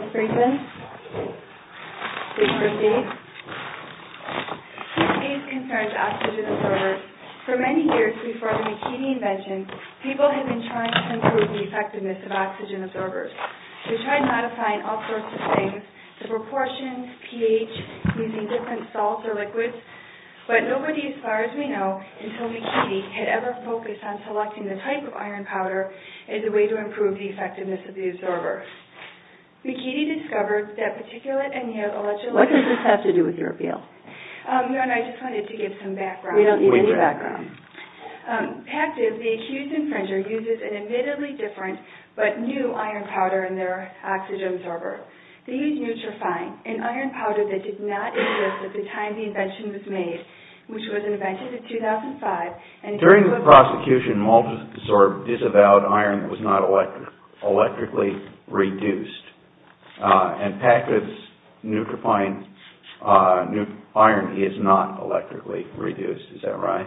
This case concerns oxygen absorbers. For many years before the McKinney invention, people had been trying to improve the effectiveness of oxygen absorbers. They tried modifying all sorts of things, the proportions, pH, using different salts or liquids, but nobody, as far as we know, until McKinney, had ever focused on selecting the type of iron powder as a way to improve the effectiveness of the absorber. McKinney discovered that particulate and yet electrolytic... What does this have to do with your appeal? No, I just wanted to give some background. We don't need any background. Pactiv, the accused infringer, uses an admittedly different but new iron powder in their oxygen absorber. These nutrients are fine. An iron powder that did not exist at the time the invention was made, which was invented in 2005, and... During the prosecution, Multisorb disavowed iron that was not electrically reduced. And Pactiv's nutrifying iron is not electrically reduced. Is that right?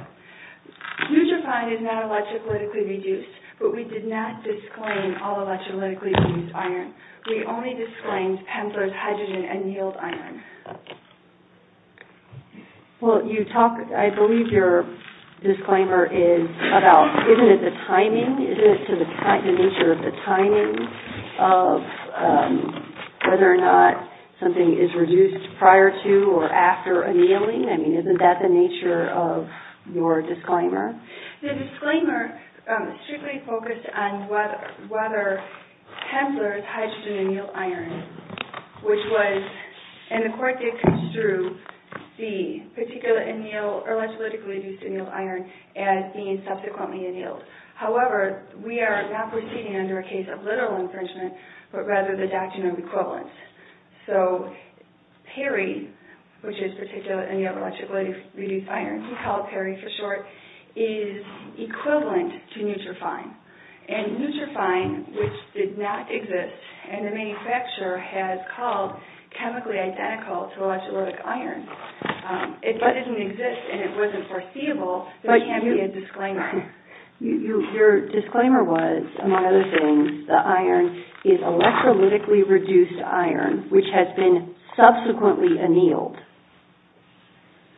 Nutrifying is not electrically reduced, but we did not disclaim all electrolytically reduced iron. We only disclaimed Pentler's hydrogen annealed iron. Well, you talk... I believe your disclaimer is about... Isn't it the timing? Isn't it to the nature of the timing of whether or not something is reduced prior to or after annealing? I mean, isn't that the nature of your disclaimer? The disclaimer strictly focused on whether Pentler's hydrogen annealed iron, which was... And the court did construe the particular annealed or electrically reduced annealed iron as being subsequently annealed. However, we are not proceeding under a case of literal infringement, but rather the doctrine of equivalence. So PERI, which is particular annealed or electrically reduced iron, we call it PERI for short, is equivalent to nutrifying. And nutrifying, which did not exist, and the manufacturer has called chemically identical to electrolytic iron. If it didn't exist and it wasn't foreseeable, there can't be a disclaimer. Your disclaimer was, among other things, the iron is electrolytically reduced iron, which has been subsequently annealed.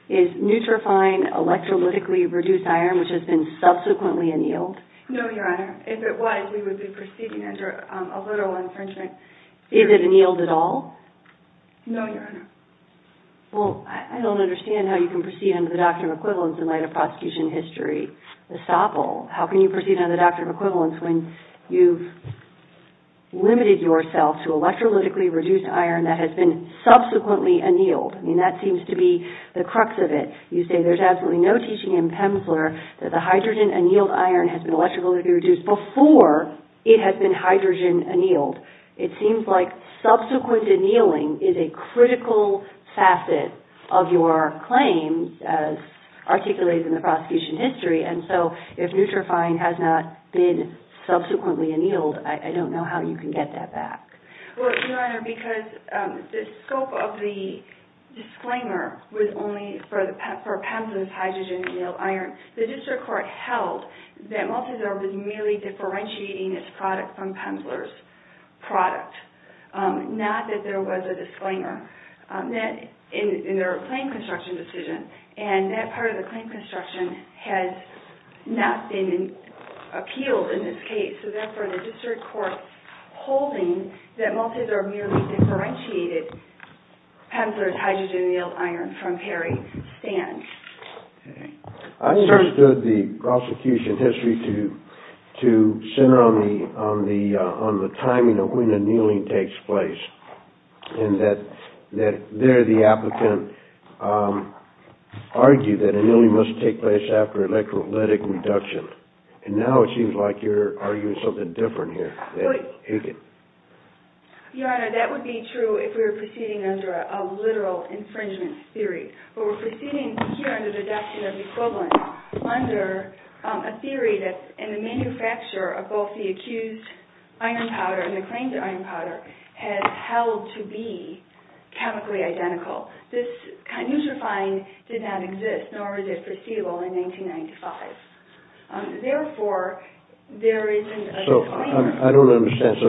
Is nutrifying electrolytically reduced iron, which has been subsequently annealed? No, Your Honor. If it was, we would be proceeding under a literal infringement. Is it annealed at all? No, Your Honor. Well, I don't understand how you can proceed under the doctrine of equivalence in light of prosecution history. The SOPL, how can you proceed under the doctrine of equivalence when you've limited yourself to electrolytically reduced iron that has been subsequently annealed? I mean, that seems to be the crux of it. You say there's absolutely no teaching in Pemsler that the hydrogen-annealed iron has been electrolytically reduced before it has been hydrogen-annealed. It seems like subsequent annealing is a critical facet of your claims as articulated in the prosecution history. And so if nutrifying has not been subsequently annealed, I don't know how you can get that back. Well, Your Honor, because the scope of the disclaimer was only for Pemsler's hydrogen-annealed iron. The district court held that Malteser was merely differentiating its product from Pemsler's product. Not that there was a disclaimer in their claim construction decision. And that part of the claim construction has not been appealed in this case. So therefore, the district court holding that Malteser merely differentiated Pemsler's hydrogen-annealed iron from Harry Stand's. I understood the prosecution history to center on the timing of when annealing takes place. And that there the applicant argued that annealing must take place after electrolytic reduction. And now it seems like you're arguing something different here. Your Honor, that would be true if we were proceeding under a literal infringement theory. But we're proceeding here under the doctrine of equivalence under a theory that in the manufacture of both the accused iron powder and the claimed iron powder has held to be chemically identical. This kinutrifying did not exist, nor was it foreseeable in 1995. Therefore, there isn't a disclaimer. I don't understand. So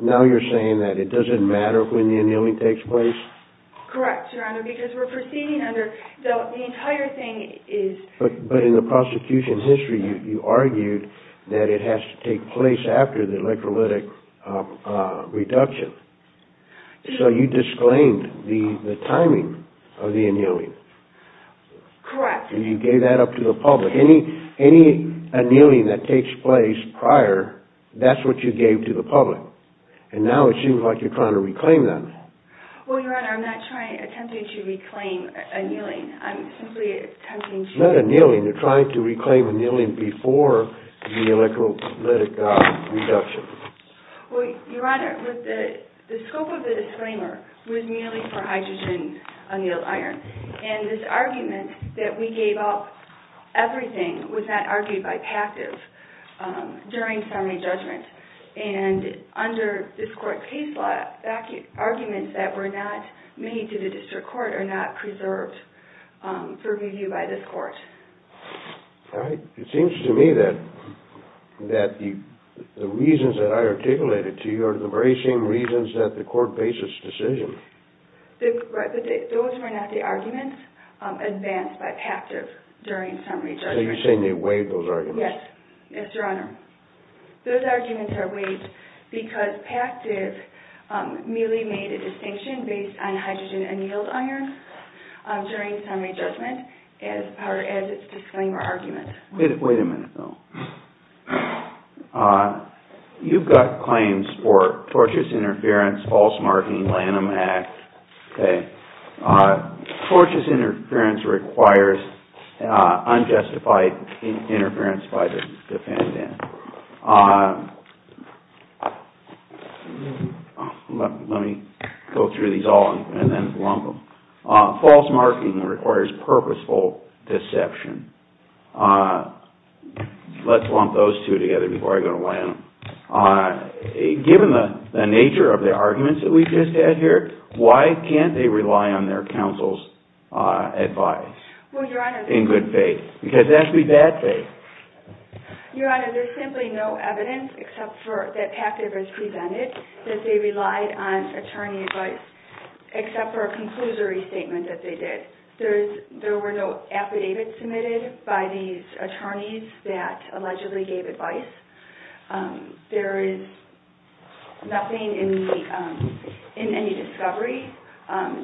now you're saying that it doesn't matter when the annealing takes place? Correct, Your Honor, because we're proceeding under the entire thing is... But in the prosecution history, you argued that it has to take place after the electrolytic reduction. So you disclaimed the timing of the annealing. Correct. And you gave that up to the public. Any annealing that takes place prior, that's what you gave to the public. And now it seems like you're trying to reclaim that. Well, Your Honor, I'm not attempting to reclaim annealing. I'm simply attempting to... It's not annealing. You're trying to reclaim annealing before the electrolytic reduction. Well, Your Honor, the scope of the disclaimer was merely for hydrogen annealed iron. And this argument that we gave up everything was not argued by passive during summary judgment. And under this court case law, arguments that were not made to the district court are not preserved for review by this court. All right. It seems to me that the reasons that I articulated to you are the very same reasons that the court bases decisions. Those were not the arguments advanced by passive during summary judgment. So you're saying they waived those arguments? Yes. Yes, Your Honor. Those arguments are waived because passive merely made a distinction based on hydrogen annealed iron during summary judgment as part of its disclaimer argument. Wait a minute, though. You've got claims for tortious interference, false marking, Lanham Act. Tortious interference requires unjustified interference by the defendant. Let me go through these all and then lump them. False marking requires purposeful deception. Let's lump those two together before I go to Lanham. Given the nature of the arguments that we've just had here, why can't they rely on their counsel's advice in good faith? Because that would be bad faith. Your Honor, there's simply no evidence except for that passive is presented that they relied on attorney advice except for a conclusory statement that they did. There were no affidavits submitted by these attorneys that allegedly gave advice. There is nothing in any discovery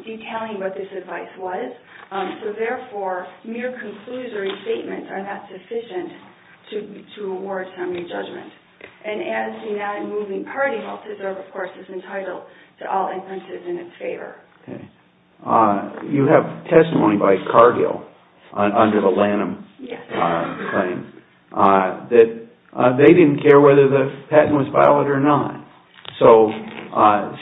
detailing what this advice was. So, therefore, mere conclusory statements are not sufficient to award summary judgment. And as the non-moving party, Halstead-Serve, of course, is entitled to all inferences in its favor. You have testimony by Cargill under the Lanham claim that they didn't care whether the patent was valid or not. So,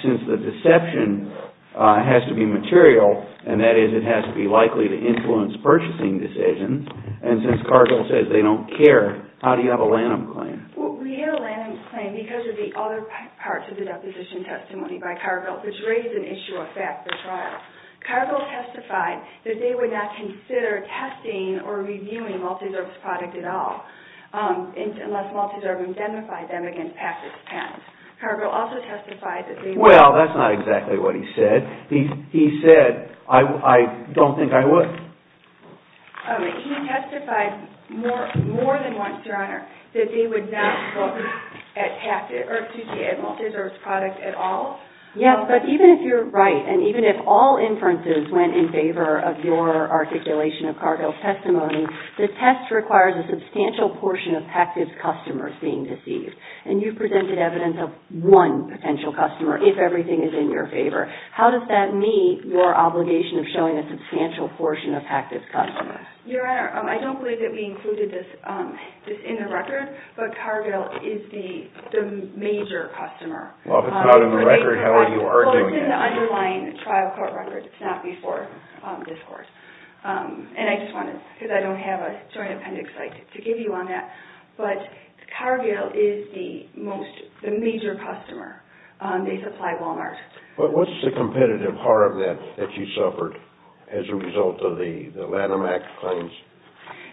since the deception has to be material, and that is it has to be likely to influence purchasing decisions, and since Cargill says they don't care, how do you have a Lanham claim? Well, we had a Lanham claim because of the other parts of the deposition testimony by Cargill, which raised an issue of fact for trial. Cargill testified that they would not consider testing or reviewing Malteser's product at all unless Malteser identified them against Patrick's patent. Cargill also testified that they would— Well, that's not exactly what he said. He said, I don't think I would. He testified more than once, Your Honor, that they would not look at Malteser's product at all. Yes, but even if you're right, and even if all inferences went in favor of your articulation of Cargill's testimony, the test requires a substantial portion of Patrick's customers being deceived. And you presented evidence of one potential customer, if everything is in your favor. How does that meet your obligation of showing a substantial portion of Patrick's customers? Your Honor, I don't believe that we included this in the record, but Cargill is the major customer. Well, if it's not in the record, how are you arguing it? Well, it's in the underlying trial court record. It's not before this court. And I just wanted—because I don't have a joint appendix to give you on that. But Cargill is the most—the major customer. They supply Walmart. But what's the competitive harm that you suffered as a result of the Lanham Act claims?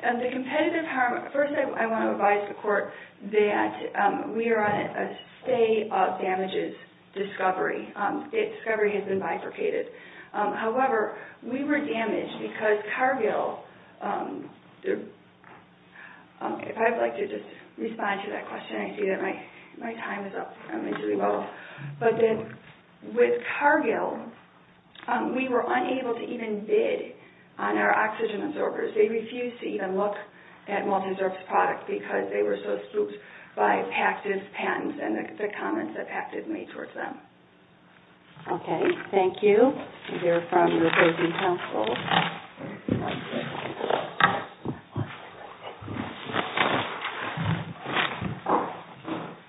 The competitive harm—first, I want to advise the court that we are on a stay of damages discovery. Discovery has been bifurcated. However, we were damaged because Cargill—if I'd like to just respond to that question, I see that my time is up. But then, with Cargill, we were unable to even bid on our oxygen absorbers. They refused to even look at multi-absorbers products because they were so spooked by Pat's patents and the comments that Pat did make towards them. Okay. Thank you. These are from the opposing counsel. Thank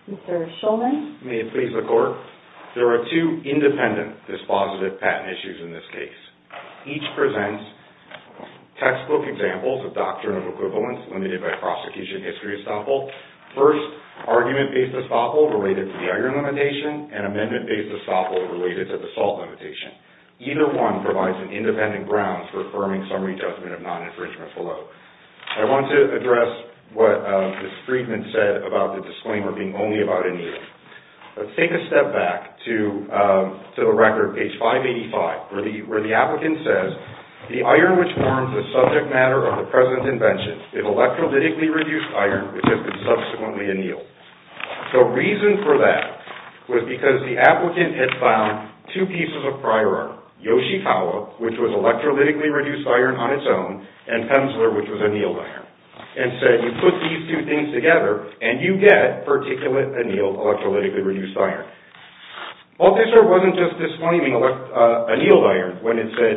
you. Mr. Shulman? May it please the court? There are two independent dispositive patent issues in this case. Each presents textbook examples of doctrinal equivalence limited by prosecution history estoppel. First, argument-based estoppel related to the iron limitation and amendment-based estoppel related to the salt limitation. Either one provides an independent ground for affirming summary judgment of non-infringement below. I want to address what Ms. Friedman said about the disclaimer being only about annealing. Let's take a step back to the record, page 585, where the applicant says, the iron which forms the subject matter of the present invention is electrolytically reduced iron, which has been subsequently annealed. The reason for that was because the applicant had found two pieces of prior art, Yoshikawa, which was electrolytically reduced iron on its own, and Penzler, which was annealed iron, and said, you put these two things together and you get particulate annealed electrolytically reduced iron. Multisort wasn't just disclaiming annealed iron when it said,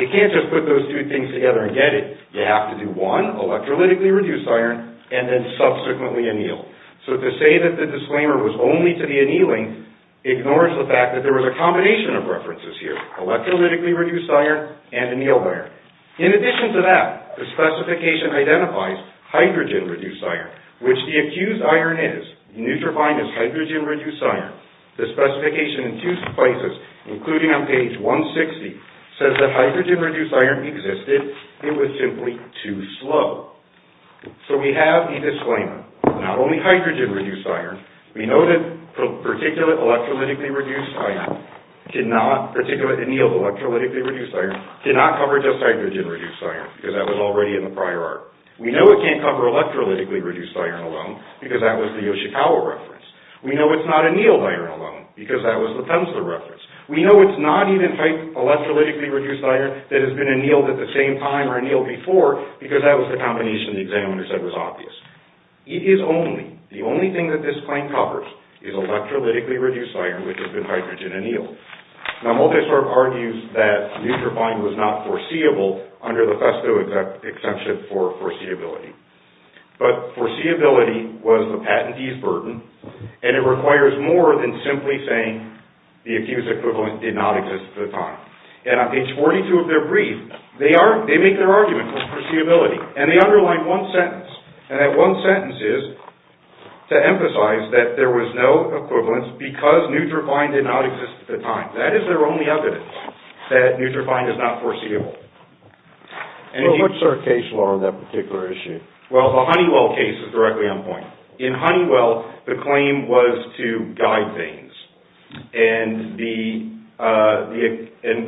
you can't just put those two things together and get it. You have to do one, electrolytically reduced iron, and then subsequently annealed. So to say that the disclaimer was only to the annealing ignores the fact that there was a combination of references here. Electrolytically reduced iron and annealed iron. In addition to that, the specification identifies hydrogen reduced iron, which the accused iron is. Neutrofine is hydrogen reduced iron. The specification in two places, including on page 160, says that hydrogen reduced iron existed. It was simply too slow. So we have a disclaimer. Not only hydrogen reduced iron. We know that particulate electrolytically reduced iron cannot, particulate annealed electrolytically reduced iron, cannot cover just hydrogen reduced iron, because that was already in the prior art. We know it can't cover electrolytically reduced iron alone, because that was the Yoshikawa reference. We know it's not annealed iron alone, because that was the Penzler reference. We know it's not even electrolytically reduced iron that has been annealed at the same time or annealed before, because that was the combination the examiner said was obvious. It is only, the only thing that this claim covers, is electrolytically reduced iron, which has been hydrogen annealed. Now, Multisorb argues that neutrofine was not foreseeable under the Festo exemption for foreseeability. But foreseeability was the patentee's burden, and it requires more than simply saying the accused equivalent did not exist at the time. And on page 42 of their brief, they make their argument for foreseeability. And they underline one sentence. And that one sentence is to emphasize that there was no equivalence because neutrofine did not exist at the time. That is their only evidence that neutrofine is not foreseeable. What's their case law on that particular issue? Well, the Honeywell case is directly on point. In Honeywell, the claim was to guide veins. And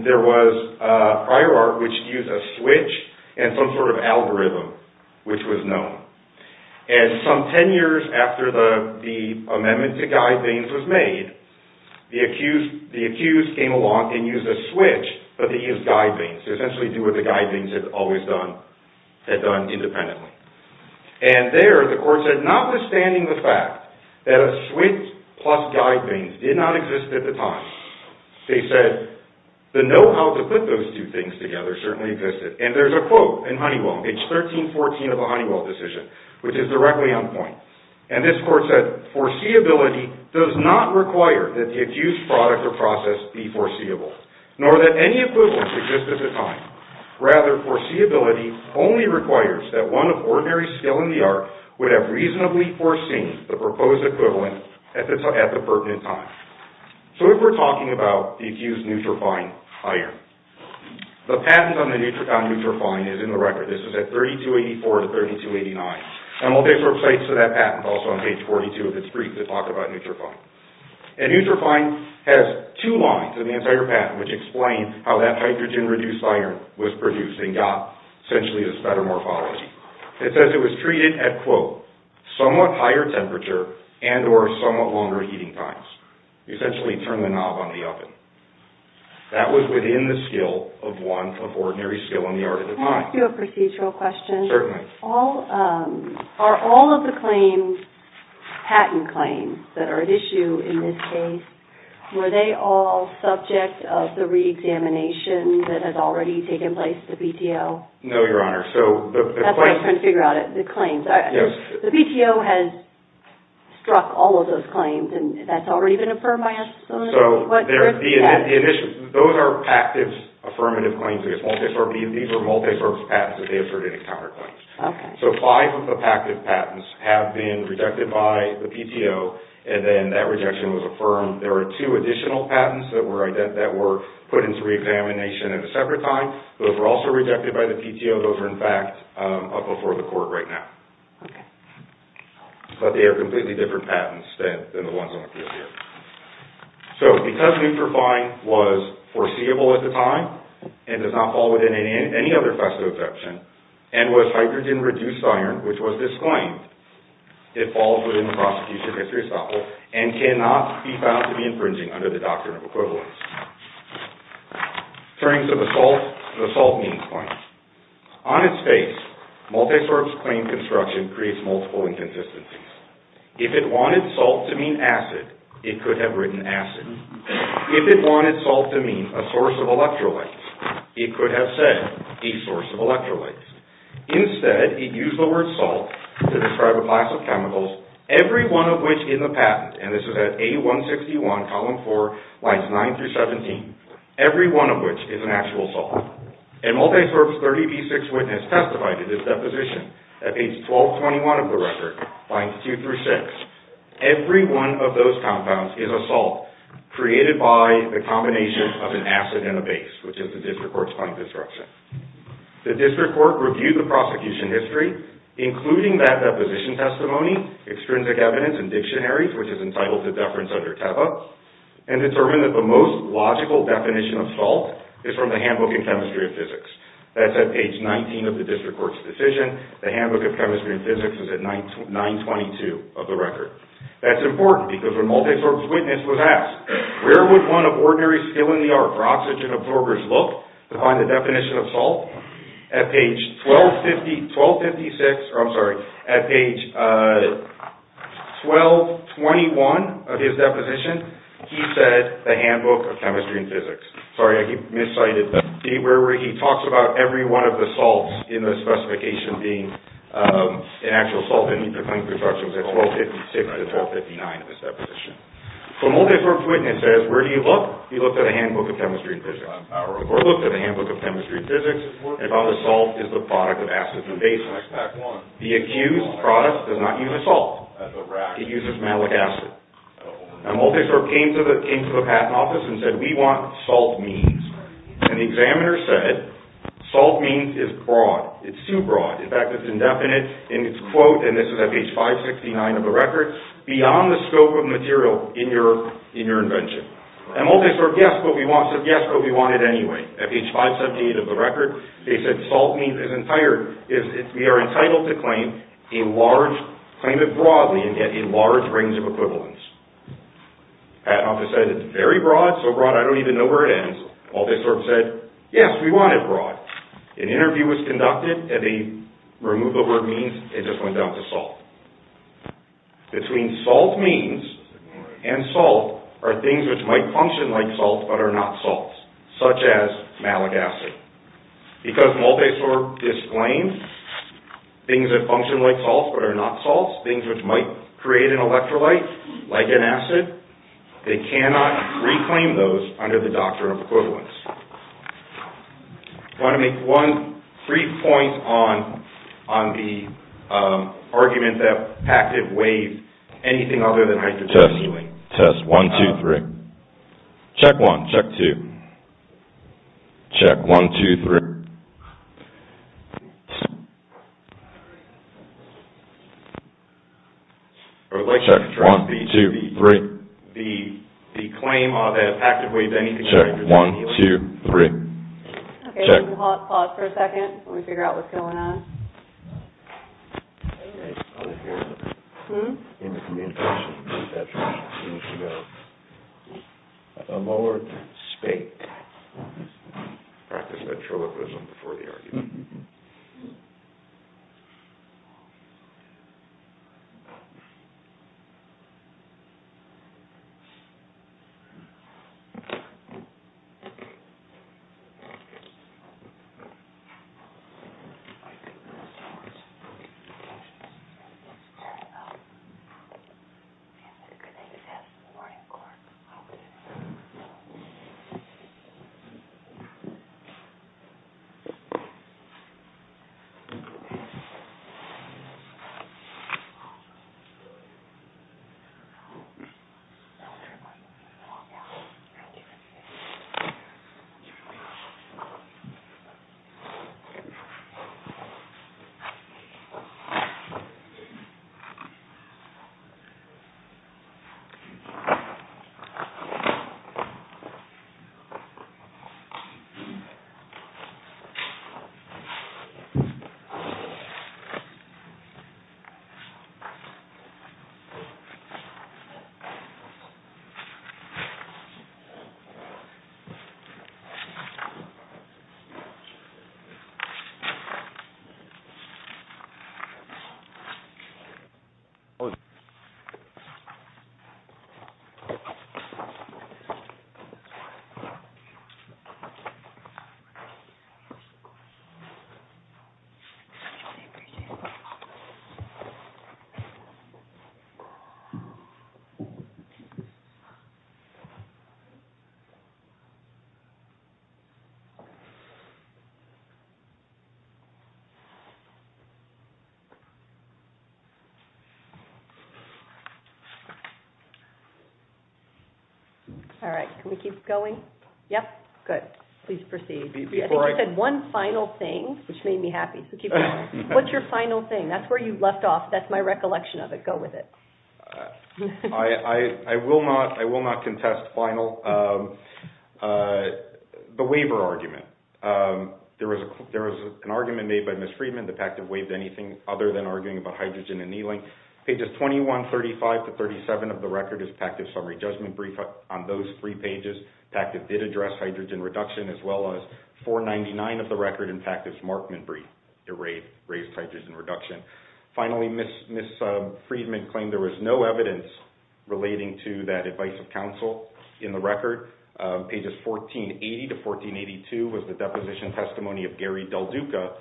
there was a prior art which used a switch and some sort of algorithm, which was known. And some ten years after the amendment to guide veins was made, the accused came along and used a switch, but they used guide veins. They essentially did what the guide veins had always done, had done independently. And there, the court said, notwithstanding the fact that a switch plus guide veins did not exist at the time, they said the know-how to put those two things together certainly existed. And there's a quote in Honeywell, page 1314 of the Honeywell decision, which is directly on point. And this court said, foreseeability does not require that the accused product or process be foreseeable, nor that any equivalence exist at the time. Rather, foreseeability only requires that one of ordinary skill in the art would have reasonably foreseen the proposed equivalent at the pertinent time. So if we're talking about the accused neutrofine hire, the patent on neutrofine is in the record. This is at 3284 to 3289. And we'll take a look at that patent also on page 42 of this brief to talk about neutrofine. And neutrofine has two lines in the entire patent which explain how that hydrogen-reduced iron was produced and got essentially this better morphology. It says it was treated at, quote, somewhat higher temperature and or somewhat longer heating times. You essentially turn the knob on the oven. That was within the skill of one of ordinary skill in the art at the time. Can I ask you a procedural question? Certainly. Are all of the claims, patent claims that are at issue in this case, were they all subject of the reexamination that has already taken place, the BTO? No, Your Honor. That's what I'm trying to figure out, the claims. The BTO has struck all of those claims and that's already been affirmed by us? Those are pactive affirmative claims. These are multipurpose patents that they have certified as counterclaims. Okay. So five of the pactive patents have been rejected by the BTO and then that rejection was affirmed. There are two additional patents that were put into reexamination at a separate time. Those were also rejected by the BTO. Those are, in fact, up before the court right now. Okay. But they are completely different patents than the ones on the floor here. So, because neutrofine was foreseeable at the time and does not fall within any other FASTA exception, and was hydrogen-reduced iron, which was disclaimed, it falls within the prosecution history estoppel and cannot be found to be infringing under the doctrine of equivalence. Turning to the SALT, the SALT means claim. On its face, multisource claim construction creates multiple inconsistencies. If it wanted SALT to mean acid, it could have written acid. If it wanted SALT to mean a source of electrolytes, it could have said a source of electrolytes. Instead, it used the word SALT to describe a class of chemicals, every one of which in the patent, and this is at A161, column 4, lines 9 through 17, every one of which is an actual salt. And multisource 30B6 witness testified to this deposition at page 1221 of the record, lines 2 through 6. Every one of those compounds is a salt created by the combination of an acid and a base, which is the district court's point of instruction. The district court reviewed the prosecution history, including that deposition testimony, extrinsic evidence and dictionaries, which is entitled to deference under TEBA, and determined that the most logical definition of salt is from the Handbook of Chemistry and Physics. That's at page 19 of the district court's decision. The Handbook of Chemistry and Physics is at 922 of the record. That's important because when multisource witness was asked, where would one of ordinary skill in the art for oxygen absorbers look to find the definition of salt, at page 1221 of his deposition, he said the Handbook of Chemistry and Physics. Sorry, I keep mis-citing that. He talks about every one of the salts in the specification being an actual salt, and he's explaining the instructions at 1256 to 1259 of his deposition. So multisource witness says, where do you look? He looked at the Handbook of Chemistry and Physics. The court looked at the Handbook of Chemistry and Physics and found that salt is the product of acids and bases. The accused product does not use a salt. It uses malic acid. And multisource came to the patent office and said, we want salt means. And the examiner said, salt means is broad. It's too broad. In fact, it's indefinite, and it's, quote, and this is at page 569 of the record, beyond the scope of material in your invention. And multisource said, yes, but we want it anyway. At page 578 of the record, they said salt means is entired, we are entitled to claim a large, claim it broadly and get a large range of equivalents. The patent office said, it's very broad, so broad I don't even know where it ends. Multisource said, yes, we want it broad. An interview was conducted, and they removed the word means, it just went down to salt. Between salt means and salt are things which might function like salt but are not salts, such as malic acid. Because multisource disclaims things that function like salts but are not salts, things which might create an electrolyte, like an acid, they cannot reclaim those under the doctrine of equivalence. I want to make one brief point on the argument that active waves, anything other than hydrogen is healing. Test, test, one, two, three. Check one, check two. Check one, two, three. Check one, two, three. Check one, two, three. Check. Pause for a second. Let me figure out what's going on. A lower spate. Practice electrolytism before the argument. Okay. Multisource. Turn it up. And it could exist. Morning corn. Okay. Oh, yeah. Okay. Okay. All right. Can we keep going? Yep. Good. Please proceed. I think you said one final thing, which made me happy. So keep going. What's your final thing? That's where you left off. That's my recollection of it. Go with it. I will not contest final. The waiver argument. There was an argument made by Ms. Friedman. The PACTIF waived anything other than arguing about hydrogen and healing. Pages 21, 35 to 37 of the record is PACTIF summary judgment brief. On those three pages, PACTIF did address hydrogen reduction, as well as 499 of the record in PACTIF's Markman brief. It raised hydrogen reduction. Finally, Ms. Friedman claimed there was no evidence relating to that advice of counsel in the record. Pages 1480 to 1482 was the deposition testimony of Gary Dalduca,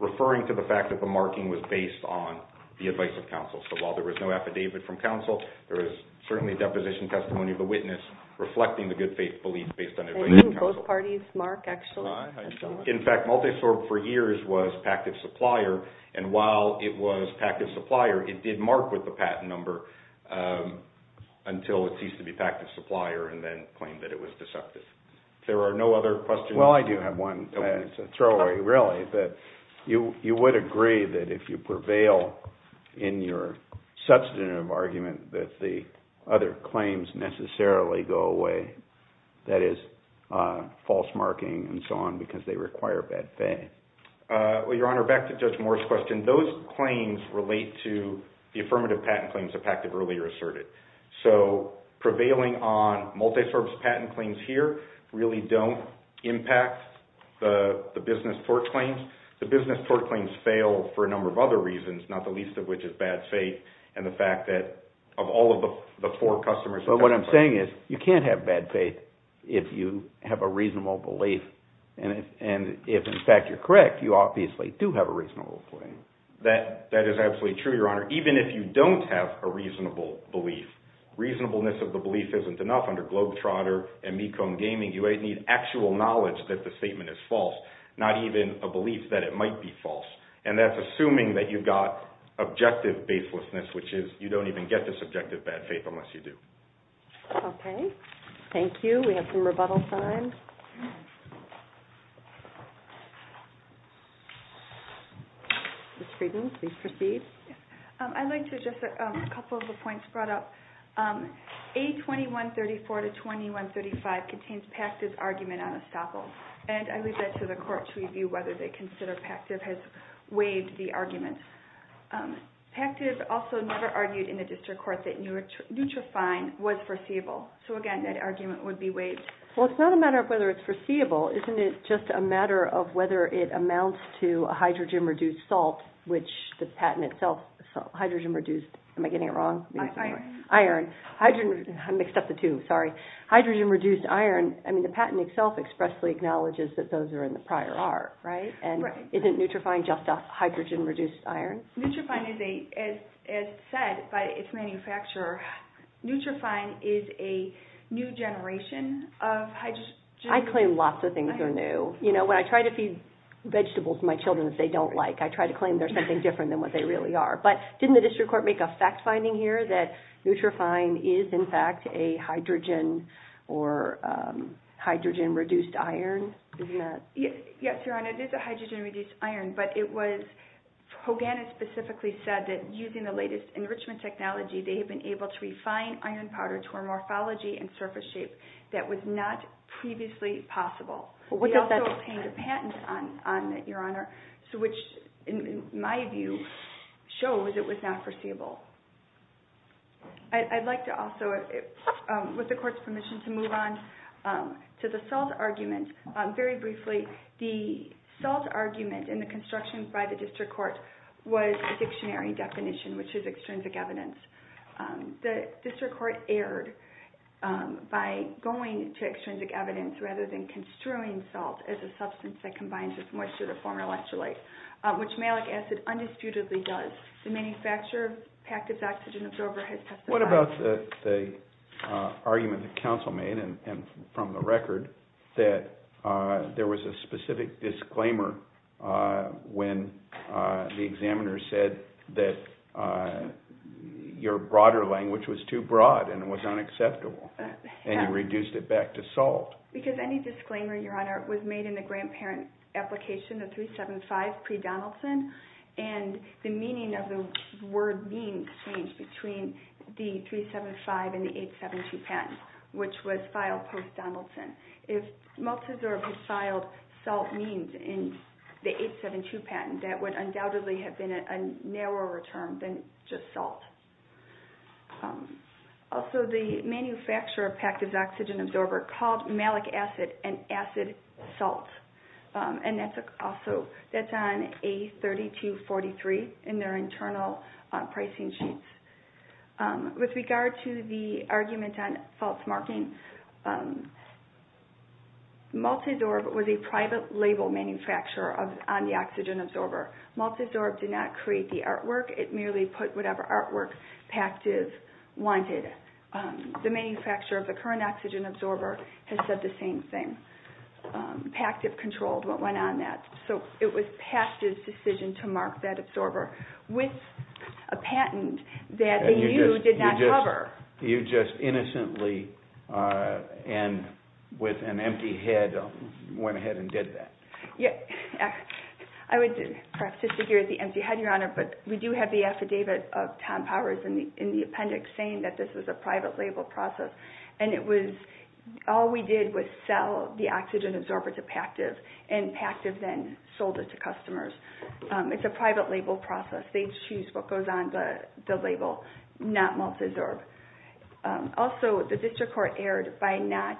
referring to the fact that the marking was based on the advice of counsel. So while there was no affidavit from counsel, there was certainly deposition testimony of the witness reflecting the good faith belief based on advice of counsel. Both parties mark, actually. In fact, Multisorb for years was PACTIF's supplier, and while it was PACTIF's supplier, it did mark with the patent number until it ceased to be PACTIF's supplier and then claimed that it was deceptive. There are no other questions? Well, I do have one. It's a throwaway, really. You would agree that if you prevail in your substantive argument that the other claims necessarily go away, that is, false marking and so on, because they require bad faith? Well, Your Honor, back to Judge Moore's question. Those claims relate to the affirmative patent claims of PACTIF earlier asserted. So prevailing on Multisorbs' patent claims here really don't impact the business tort claims. The business tort claims fail for a number of other reasons, not the least of which is bad faith and the fact that of all of the four customers of PACTIF. Well, what I'm saying is you can't have bad faith if you have a reasonable belief and if, in fact, you're correct, you obviously do have a reasonable belief. That is absolutely true, Your Honor, even if you don't have a reasonable belief. Reasonableness of the belief isn't enough. Under Globetrotter and Mecone Gaming, you need actual knowledge that the statement is false, not even a belief that it might be false, and that's assuming that you've got objective baselessness, which is you don't even get this objective bad faith unless you do. Okay. Thank you. We have some rebuttal time. Ms. Friedman, please proceed. I'd like to address a couple of the points brought up. A2134-2135 contains PACTIF's argument on estoppel, and I leave that to the court to review whether they consider PACTIF has waived the argument. PACTIF also never argued in the district court that neutrofine was foreseeable, so, again, that argument would be waived. Well, it's not a matter of argument. It's not a matter of whether it's foreseeable. Isn't it just a matter of whether it amounts to a hydrogen-reduced salt, which the patent itself, hydrogen-reduced, am I getting it wrong? Iron. Iron. I mixed up the two, sorry. Hydrogen-reduced iron. I mean, the patent itself expressly acknowledges that those are in the prior art, right? And isn't neutrofine just a hydrogen-reduced iron? Neutrofine is a, as said by its manufacturer, neutrofine is a new generation of hydrogen. I claim lots of things are new. When I try to feed vegetables to my children that they don't like, I try to claim they're something different than what they really are. But didn't the district court make a fact-finding here that neutrofine is, in fact, a hydrogen or hydrogen-reduced iron? Yes, Your Honor, it is a hydrogen-reduced iron, but it was, Hogan has specifically said that using the latest enrichment technology, they have been able to refine iron powder to a morphology and surface shape that was not previously possible. They also obtained a patent on it, Your Honor, which, in my view, shows it was not foreseeable. I'd like to also, with the court's permission, to move on to the SALT argument. Very briefly, the SALT argument in the construction by the district court was a dictionary definition, which is extrinsic evidence. The district court erred by going to extrinsic evidence rather than construing SALT as a substance that combines with moisture to form electrolyte, which malic acid undisputedly does. The manufacturer, Pactiv's Oxygen Absorber, has testified. What about the argument the counsel made, and from the record, that there was a specific disclaimer when the examiner said that your broader language was too broad and it was unacceptable, and you reduced it back to SALT? Because any disclaimer, Your Honor, was made in the grandparent application, the 375 pre-Donaldson, and the meaning of the word means changed between the 375 and the 872 patents, which was filed post-Donaldson. If Malteser had filed SALT means in the 872 patent, that would undoubtedly have been a narrower term than just SALT. Also, the manufacturer, Pactiv's Oxygen Absorber, called malic acid an acid salt, and that's on A3243 in their internal pricing sheets. With regard to the argument on false marking, Malteser was a private label manufacturer on the Oxygen Absorber. Malteser did not create the artwork. It merely put whatever artwork Pactiv wanted. The manufacturer of the current Oxygen Absorber has said the same thing. Pactiv controlled what went on that, so it was Pactiv's decision to mark that absorber. With a patent that AU did not cover. You just innocently and with an empty head went ahead and did that. I would perhaps disagree with the empty head, Your Honor, but we do have the affidavit of Tom Powers in the appendix saying that this was a private label process, and all we did was sell the Oxygen Absorber to Pactiv, and Pactiv then sold it to customers. It's a private label process. They choose what goes on the label, not Malteser. Also, the district court erred by not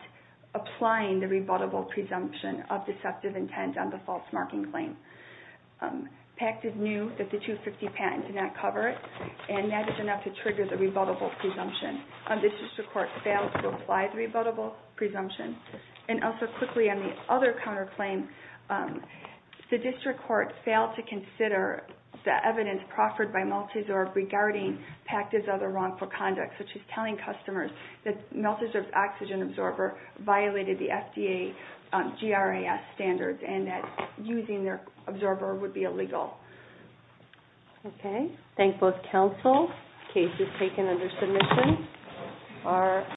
applying the rebuttable presumption of deceptive intent on the false marking claim. Pactiv knew that the 250 patent did not cover it, and that is enough to trigger the rebuttable presumption. The district court failed to apply the rebuttable presumption, and also quickly on the other counterclaim, the district court failed to consider the evidence proffered by Malteser regarding Pactiv's other wrongful conduct, which is telling customers that Malteser's Oxygen Absorber violated the FDA GRAS standards, and that using their absorber would be illegal. Okay. Thank both counsel. Case is taken under submission.